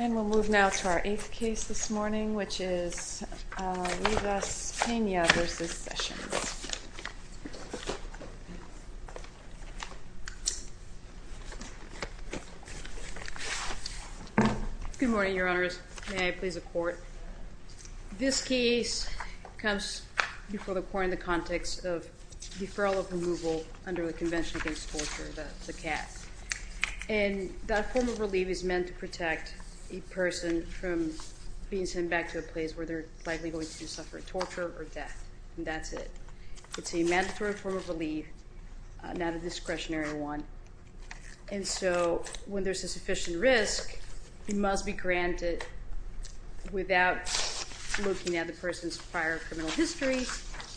And we'll move now to our eighth case this morning, which is Rivas-Pena v. Sessions. Good morning, Your Honors. May I please the Court? This case comes before the Court in the context of deferral of removal under the Convention Against Torture, the CAS. And that form of relief is meant to protect a person from being sent back to a place where they're likely going to suffer torture or death, and that's it. It's a mandatory form of relief, not a discretionary one. And so when there's a sufficient risk, it must be granted without looking at the person's prior criminal history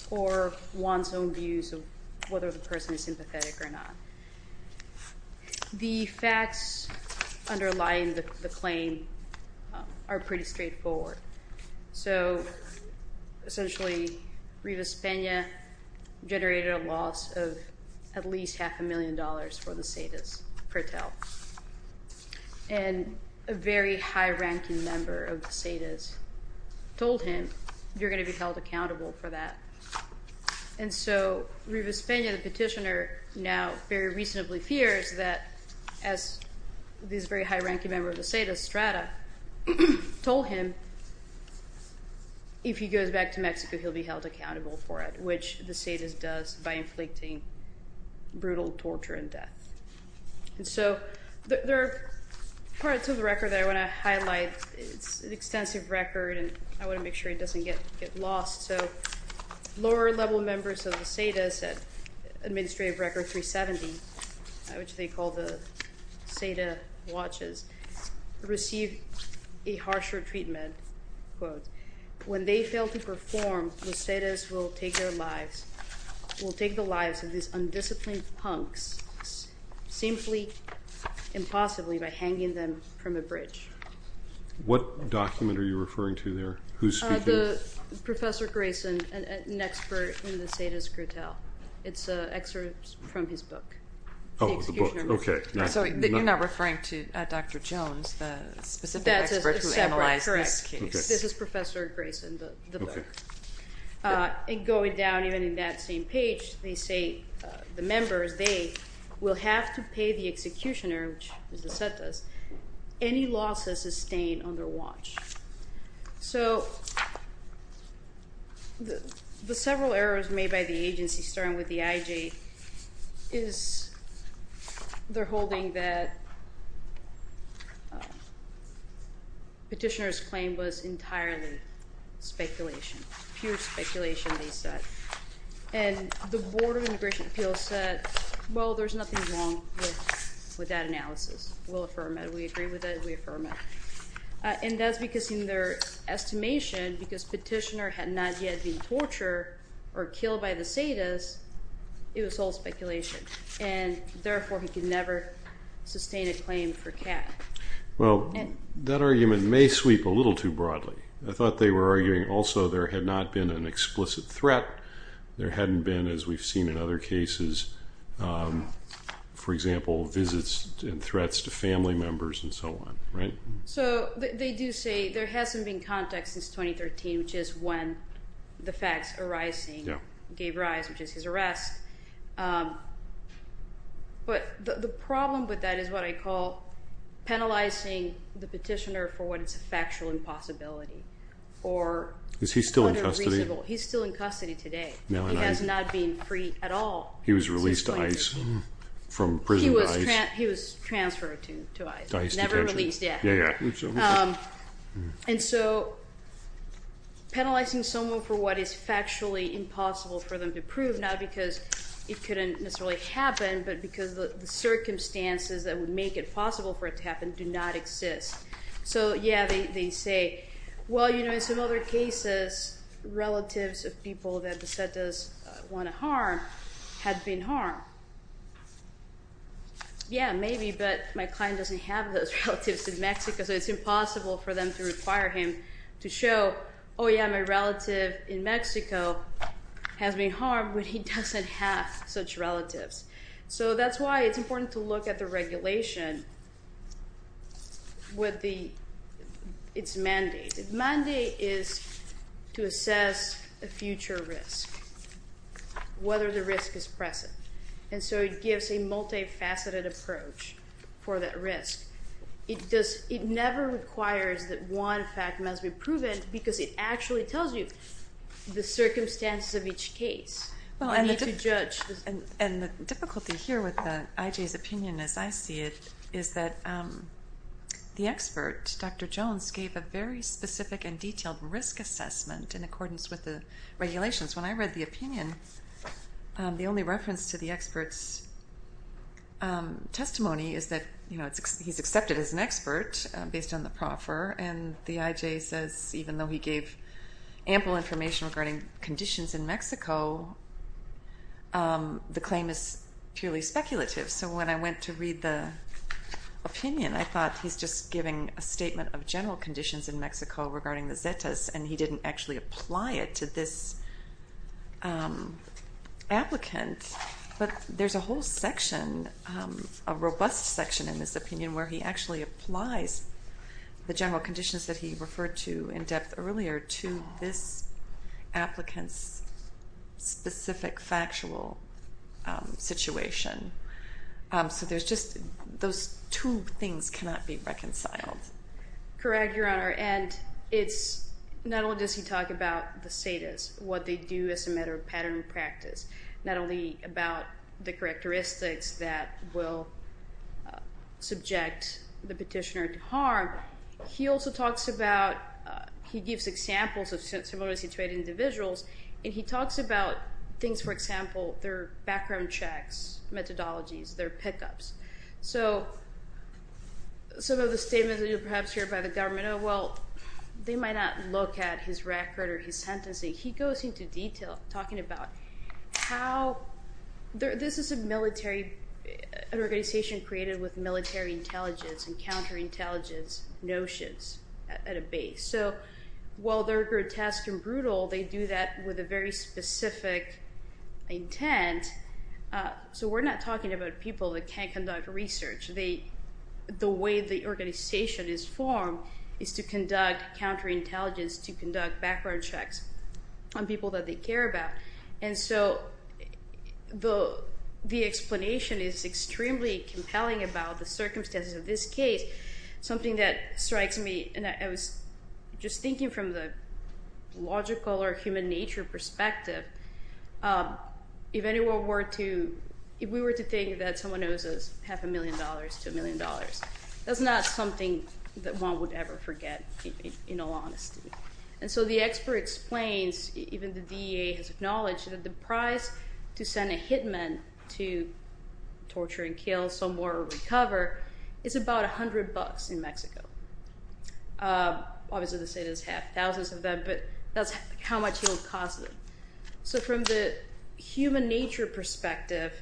or one's own views of whether the person is sympathetic or not. The facts underlying the claim are pretty straightforward. So, essentially, Rivas-Pena generated a loss of at least half a million dollars for the CEDAs per tell. And a very high-ranking member of the CEDAs told him, you're going to be held accountable for that. And so Rivas-Pena, the petitioner, now very reasonably fears that, as this very high-ranking member of the CEDAs, Strata, told him, if he goes back to Mexico, he'll be held accountable for it, which the CEDAs does by inflicting brutal torture and death. And so there are parts of the record that I want to highlight. It's an extensive record, and I want to make sure it doesn't get lost. So lower-level members of the CEDAs, Administrative Record 370, which they call the CEDA watches, received a harsher treatment. When they fail to perform, the CEDAs will take the lives of these undisciplined punks, simply, impossibly, by hanging them from a bridge. What document are you referring to there? Who's speaking? Professor Grayson, an expert in the CEDAs' grutale. It's an excerpt from his book. Oh, the book. Okay. So you're not referring to Dr. Jones, the specific expert who analyzed that? This is Professor Grayson, the book. And going down, even in that same page, they say the members, they will have to pay the executioner, which is the CEDAs, any losses sustained on their watch. So the several errors made by the agency, starting with the IJ, is they're holding that petitioner's claim was entirely speculation, pure speculation, they said. And the Board of Immigration Appeals said, well, there's nothing wrong with that analysis. We'll affirm it. We agree with it. We affirm it. And that's because in their estimation, because petitioner had not yet been tortured or killed by the CEDAs, it was all speculation. And therefore, he could never sustain a claim for cat. Well, that argument may sweep a little too broadly. I thought they were arguing also there had not been an explicit threat. There hadn't been, as we've seen in other cases, for example, visits and threats to family members and so on, right? So they do say there hasn't been context since 2013, which is when the facts arising gave rise, which is his arrest. But the problem with that is what I call penalizing the petitioner for what is a factual impossibility or unreasonable. Is he still in custody? He's still in custody today. He has not been freed at all. He was released to ICE from prison to ICE. He was transferred to ICE. To ICE detention. And so penalizing someone for what is factually impossible for them to prove, not because it couldn't necessarily happen, but because the circumstances that would make it possible for it to happen do not exist. So, yeah, they say, well, you know, in some other cases, relatives of people that the CEDAs want to harm had been harmed. Yeah, maybe, but my client doesn't have those relatives in Mexico, so it's impossible for them to require him to show, oh, yeah, my relative in Mexico has been harmed, but he doesn't have such relatives. So that's why it's important to look at the regulation with its mandate. The mandate is to assess a future risk, whether the risk is present. And so it gives a multifaceted approach for that risk. It never requires that one fact must be proven because it actually tells you the circumstances of each case. And the difficulty here with the IJ's opinion, as I see it, is that the expert, Dr. Jones, gave a very specific and detailed risk assessment in accordance with the regulations. When I read the opinion, the only reference to the expert's testimony is that, you know, he's accepted as an expert based on the proffer. And the IJ says even though he gave ample information regarding conditions in Mexico, the claim is purely speculative. So when I went to read the opinion, I thought he's just giving a statement of general conditions in Mexico regarding the Zetas, and he didn't actually apply it to this applicant. But there's a whole section, a robust section in this opinion, where he actually applies the general conditions that he referred to in depth earlier to this applicant's specific factual situation. So there's just those two things cannot be reconciled. Correct, Your Honor, and it's not only does he talk about the Zetas, what they do as a matter of pattern and practice, not only about the characteristics that will subject the petitioner to harm. He also talks about, he gives examples of similarly situated individuals, and he talks about things, for example, their background checks, methodologies, their pickups. So some of the statements that you perhaps hear by the government, oh, well, they might not look at his record or his sentencing. He goes into detail talking about how this is a military, an organization created with military intelligence and counterintelligence notions at a base. So while they're grotesque and brutal, they do that with a very specific intent. So we're not talking about people that can't conduct research. The way the organization is formed is to conduct counterintelligence, to conduct background checks on people that they care about. And so the explanation is extremely compelling about the circumstances of this case. Something that strikes me, and I was just thinking from the logical or human nature perspective, if anyone were to, if we were to think that someone owes us half a million dollars to a million dollars, that's not something that one would ever forget, in all honesty. And so the expert explains, even the DEA has acknowledged, that the price to send a hitman to torture and kill someone or recover is about 100 bucks in Mexico. Obviously, the state does have thousands of them, but that's how much he'll cost them. So from the human nature perspective,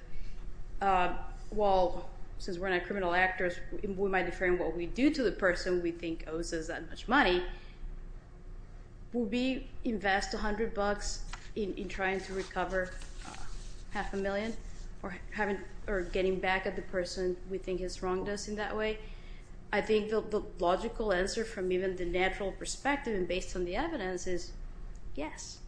well, since we're not criminal actors, we might define what we do to the person we think owes us that much money. Would we invest 100 bucks in trying to recover half a million or getting back at the person we think has wronged us in that way? I think the logical answer from even the natural perspective and based on the evidence is yes.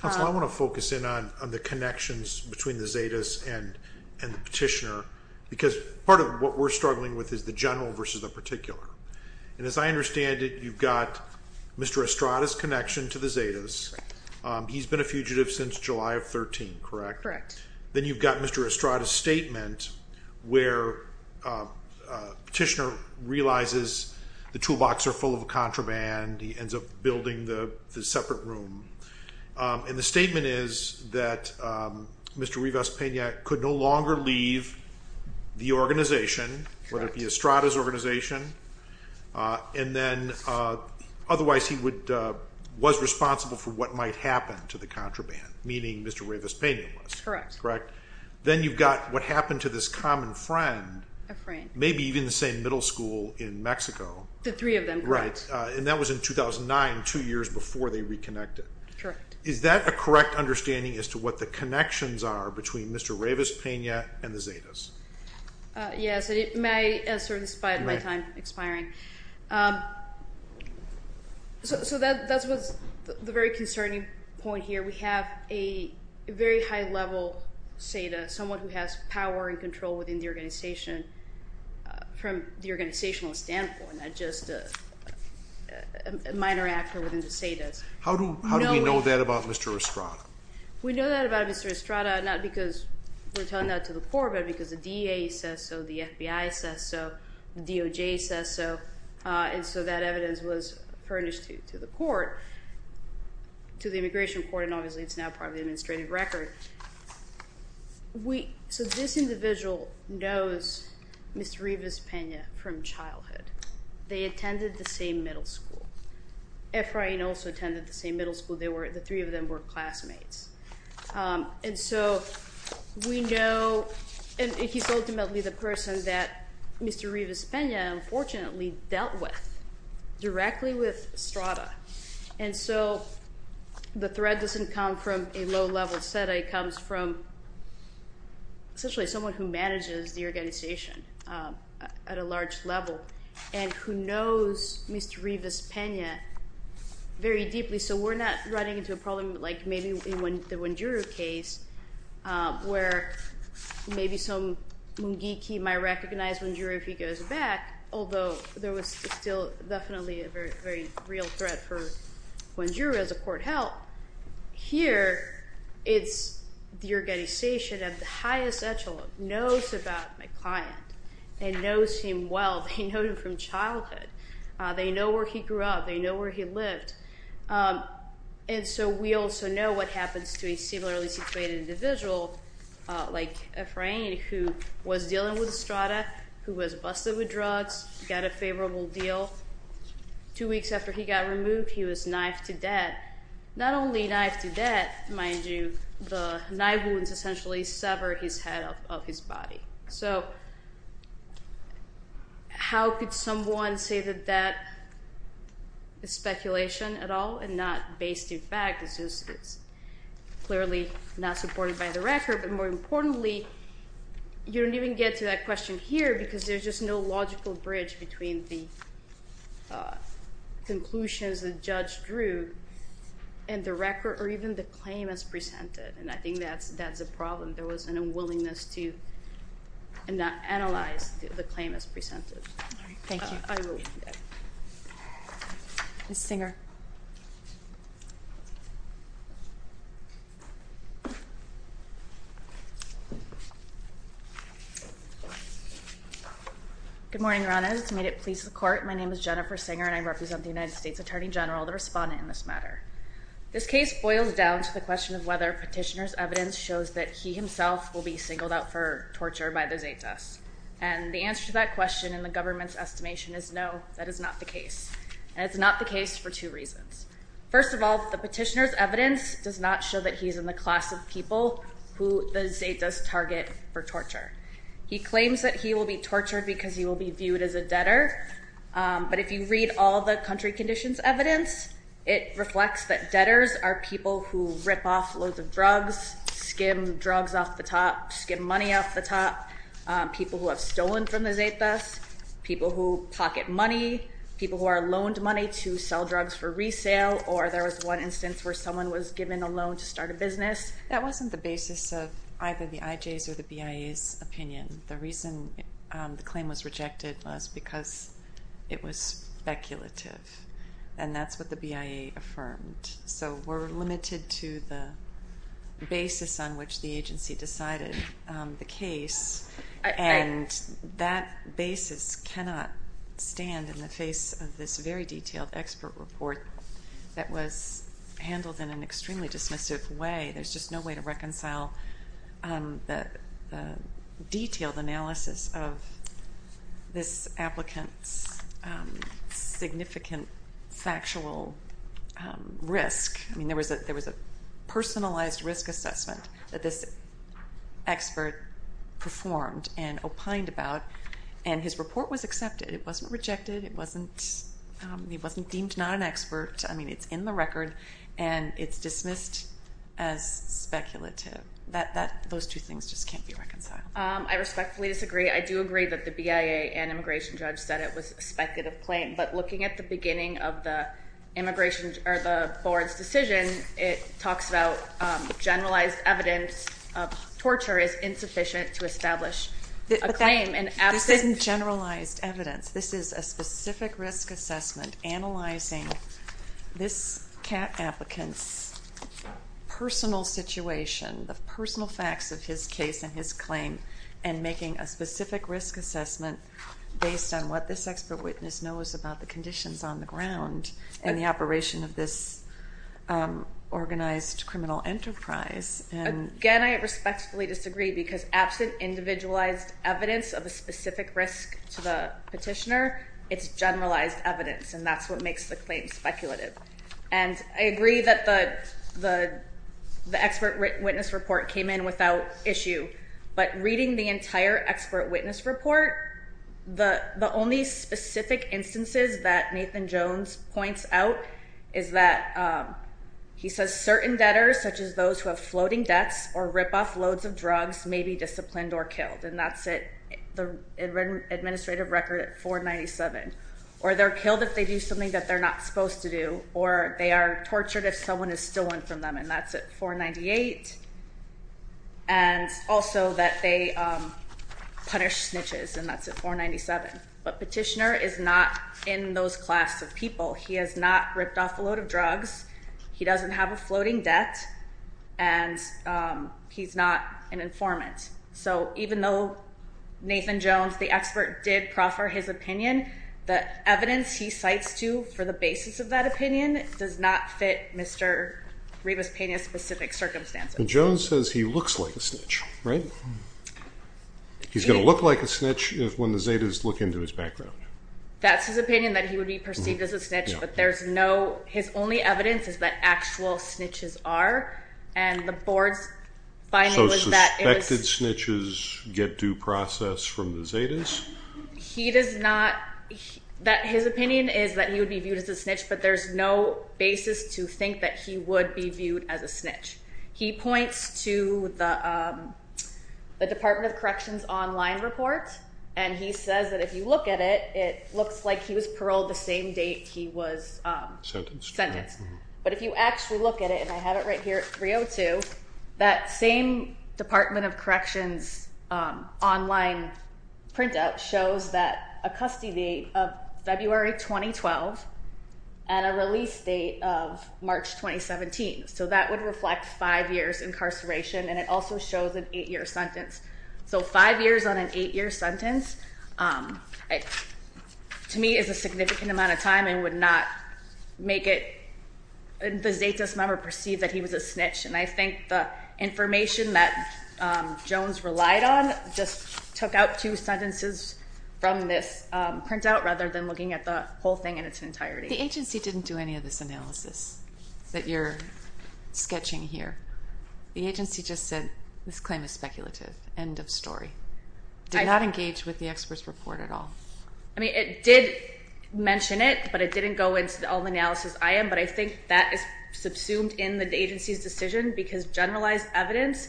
Counsel, I want to focus in on the connections between the Zetas and the petitioner, because part of what we're struggling with is the general versus the particular. And as I understand it, you've got Mr. Estrada's connection to the Zetas. He's been a fugitive since July of 13, correct? Correct. Then you've got Mr. Estrada's statement where petitioner realizes the toolbox are full of contraband. He ends up building the separate room. And the statement is that Mr. Rivas-Pena could no longer leave the organization, whether it be Estrada's organization. And then otherwise he was responsible for what might happen to the contraband, meaning Mr. Rivas-Pena was. Correct. Then you've got what happened to this common friend, maybe even the same middle school in Mexico. The three of them, correct. And that was in 2009, two years before they reconnected. Correct. Is that a correct understanding as to what the connections are between Mr. Rivas-Pena and the Zetas? Yes, it may, in spite of my time expiring. So that was the very concerning point here. We have a very high-level Zeta, someone who has power and control within the organization from the organizational standpoint, not just a minor actor within the Zetas. How do we know that about Mr. Estrada? We know that about Mr. Estrada not because we're telling that to the court, but because the DA says so, the FBI says so, the DOJ says so, and so that evidence was furnished to the immigration court, and obviously it's now part of the administrative record. So this individual knows Mr. Rivas-Pena from childhood. They attended the same middle school. Efrain also attended the same middle school. The three of them were classmates. And so we know, and he's ultimately the person that Mr. Rivas-Pena unfortunately dealt with directly with Estrada, and so the thread doesn't come from a low-level Zeta. It comes from essentially someone who manages the organization at a large level and who knows Mr. Rivas-Pena very deeply. So we're not running into a problem like maybe in the Wenguru case where maybe some geeky might recognize Wenguru if he goes back, although there was still definitely a very real threat for Wenguru as a court help. Here, it's the organization at the highest echelon knows about my client. They know him well. They know him from childhood. They know where he grew up. They know where he lived. And so we also know what happens to a similarly situated individual like Efrain who was dealing with Estrada, who was busted with drugs, got a favorable deal. Two weeks after he got removed, he was knifed to death. Not only knifed to death, mind you, the knife wounds essentially severed his head off of his body. So how could someone say that that is speculation at all and not based in fact? It's clearly not supported by the record, but more importantly, you don't even get to that question here because there's just no logical bridge between the conclusions the judge drew and the record or even the claim as presented, and I think that's a problem. There was an unwillingness to analyze the claim as presented. All right. Thank you. Ms. Singer. Good morning, Your Honors. To meet it pleases the court, my name is Jennifer Singer, and I represent the United States Attorney General, the respondent in this matter. This case boils down to the question of whether petitioner's evidence shows that he himself will be singled out for torture by the Zetas, and the answer to that question in the government's estimation is no, that is not the case, and it's not the case for two reasons. First of all, the petitioner's evidence does not show that he is in the class of people who the Zetas target for torture. He claims that he will be tortured because he will be viewed as a debtor, but if you read all the country conditions evidence, it reflects that debtors are people who rip off loads of drugs, skim drugs off the top, skim money off the top, people who have stolen from the Zetas, people who pocket money, people who are loaned money to sell drugs for resale, or there was one instance where someone was given a loan to start a business. That wasn't the basis of either the IJs or the BIA's opinion. The reason the claim was rejected was because it was speculative, and that's what the BIA affirmed. So we're limited to the basis on which the agency decided the case, and that basis cannot stand in the face of this very detailed expert report that was handled in an extremely dismissive way. There's just no way to reconcile the detailed analysis of this applicant's significant factual risk. I mean, there was a personalized risk assessment that this expert performed and opined about, and his report was accepted. It wasn't rejected. It wasn't deemed not an expert. I mean, it's in the record, and it's dismissed as speculative. Those two things just can't be reconciled. I respectfully disagree. I do agree that the BIA and immigration judge said it was a speculative claim, but looking at the beginning of the board's decision, it talks about generalized evidence of torture is insufficient to establish a claim. This isn't generalized evidence. This is a specific risk assessment analyzing this applicant's personal situation, the personal facts of his case and his claim, and making a specific risk assessment based on what this expert witness knows about the conditions on the ground and the operation of this organized criminal enterprise. Again, I respectfully disagree because absent individualized evidence of a specific risk to the petitioner, it's generalized evidence, and that's what makes the claim speculative. And I agree that the expert witness report came in without issue, but reading the entire expert witness report, the only specific instances that Nathan Jones points out is that he says certain debtors, such as those who have floating debts or rip off loads of drugs, may be disciplined or killed, and that's the administrative record at 497, or they're killed if they do something that they're not supposed to do, or they are tortured if someone is stolen from them, and that's at 498, and also that they punish snitches, and that's at 497. But petitioner is not in those class of people. He has not ripped off a load of drugs. He doesn't have a floating debt, and he's not an informant. So even though Nathan Jones, the expert, did proffer his opinion, the evidence he cites to for the basis of that opinion does not fit Mr. Rivas-Pena's specific circumstances. Jones says he looks like a snitch, right? He's going to look like a snitch when the Zetas look into his background. That's his opinion, that he would be perceived as a snitch, but his only evidence is that actual snitches are, and the board's finding was that it was. So suspected snitches get due process from the Zetas? He does not. His opinion is that he would be viewed as a snitch, but there's no basis to think that he would be viewed as a snitch. He points to the Department of Corrections online report, and he says that if you look at it, it looks like he was paroled the same date he was sentenced. But if you actually look at it, and I have it right here at 302, that same Department of Corrections online printout shows that a custody date of February 2012 and a release date of March 2017. So that would reflect 5 years incarceration, and it also shows an 8-year sentence. So 5 years on an 8-year sentence to me is a significant amount of time and would not make the Zetas member perceive that he was a snitch. And I think the information that Jones relied on just took out two sentences from this printout rather than looking at the whole thing in its entirety. The agency didn't do any of this analysis that you're sketching here. The agency just said this claim is speculative, end of story. Did not engage with the expert's report at all. It did mention it, but it didn't go into all the analysis I am, but I think that is subsumed in the agency's decision because generalized evidence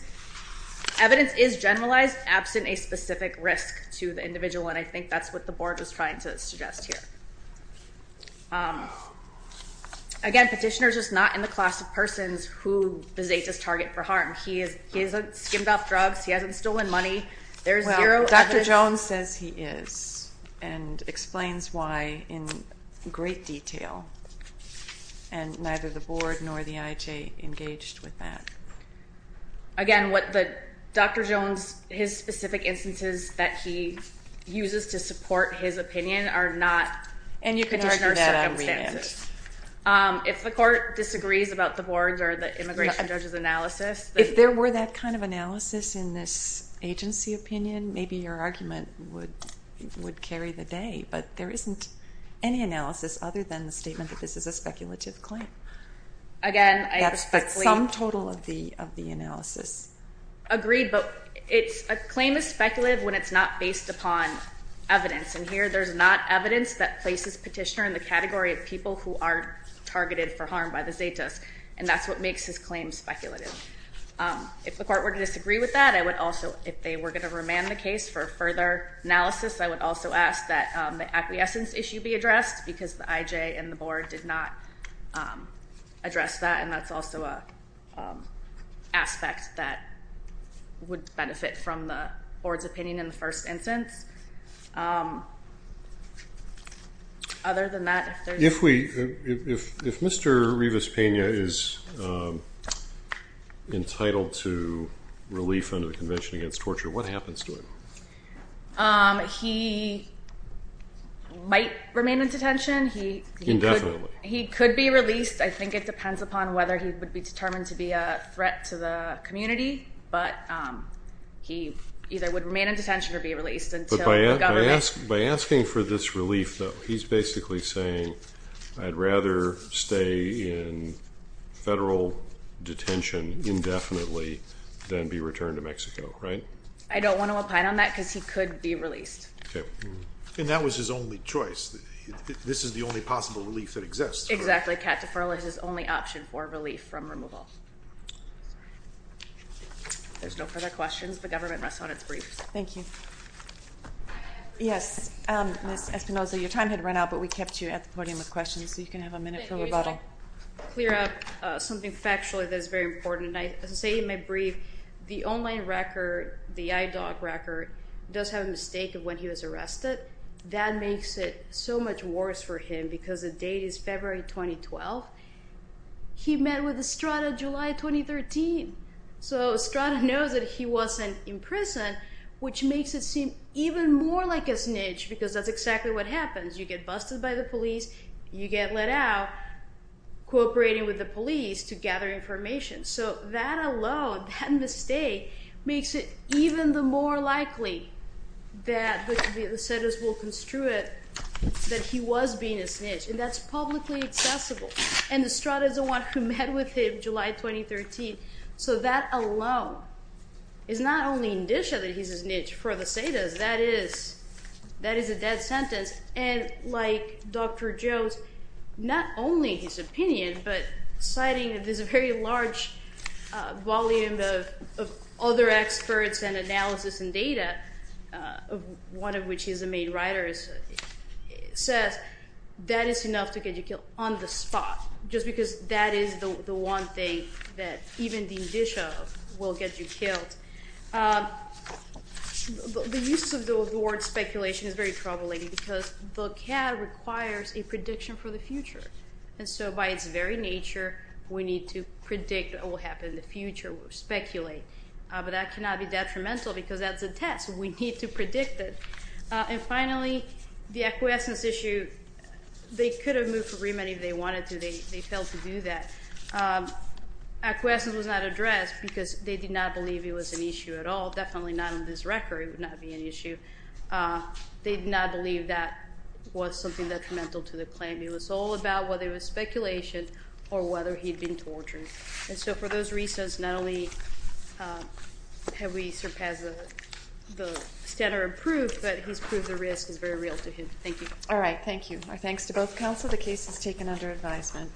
is generalized absent a specific risk to the individual, and I think that's what the board was trying to suggest here. Again, petitioner's just not in the class of persons who the Zetas target for harm. He hasn't skimmed off drugs. He hasn't stolen money. Well, Dr. Jones says he is and explains why in great detail, and neither the board nor the IJ engaged with that. Again, Dr. Jones, his specific instances that he uses to support his opinion are not petitioner's circumstances. If the court disagrees about the board's or the immigration judge's analysis... If there were that kind of analysis in this agency opinion, maybe your argument would carry the day, but there isn't any analysis other than the statement that this is a speculative claim. Again, I... That's some total of the analysis. Agreed, but a claim is speculative when it's not based upon evidence, and here there's not evidence that places petitioner in the category of people who are targeted for harm by the Zetas, and that's what makes his claim speculative. If the court were to disagree with that, I would also... If they were going to remand the case for further analysis, I would also ask that the acquiescence issue be addressed because the IJ and the board did not address that, and that's also an aspect that would benefit from the board's opinion in the first instance. Other than that, if there's... If we... If Mr. Rivas-Pena is entitled to relief under the Convention Against Torture, what happens to him? He might remain in detention. Indefinitely. He could be released. I think it depends upon whether he would be determined to be a threat to the community, but he either would remain in detention or be released until the government... I'd rather stay in federal detention indefinitely than be returned to Mexico, right? I don't want to opine on that because he could be released. Okay. And that was his only choice. This is the only possible relief that exists. Exactly. Cat deferral is his only option for relief from removal. If there's no further questions, the government rests on its briefs. Thank you. Yes, Ms. Espinoza, your time had run out, but we kept you at the podium with questions, so you can have a minute for rebuttal. Thank you. I just want to clear up something factually that is very important. As I say in my brief, the online record, the IDOC record, does have a mistake of when he was arrested. That makes it so much worse for him because the date is February 2012. He met with Estrada July 2013. So Estrada knows that he wasn't in prison, which makes it seem even more like a snitch because that's exactly what happens. You get busted by the police, you get let out, cooperating with the police to gather information. So that alone, that mistake, makes it even the more likely that the SEDAS will construe it that he was being a snitch. And that's publicly accessible. And Estrada is the one who met with him July 2013. So that alone is not only indicia that he's a snitch for the SEDAS. That is a dead sentence. And like Dr. Jones, not only his opinion, but citing this very large volume of other experts and analysis and data, one of which is a main writer, says that is enough to get you killed on the spot just because that is the one thing that even the indicia will get you killed. The use of the word speculation is very troubling because the CAD requires a prediction for the future. And so by its very nature, we need to predict what will happen in the future, speculate. But that cannot be detrimental because that's a test. We need to predict it. And finally, the acquiescence issue, they could have moved for remand if they wanted to. They failed to do that. Acquiescence was not addressed because they did not believe it was an issue at all. Definitely not in this record. It would not be an issue. They did not believe that was something detrimental to the claim. It was all about whether it was speculation or whether he'd been tortured. And so for those reasons, not only have we surpassed the standard of proof, but he's proved the risk is very real to him. Thank you. All right, thank you. Our thanks to both counsel. The case is taken under advisement.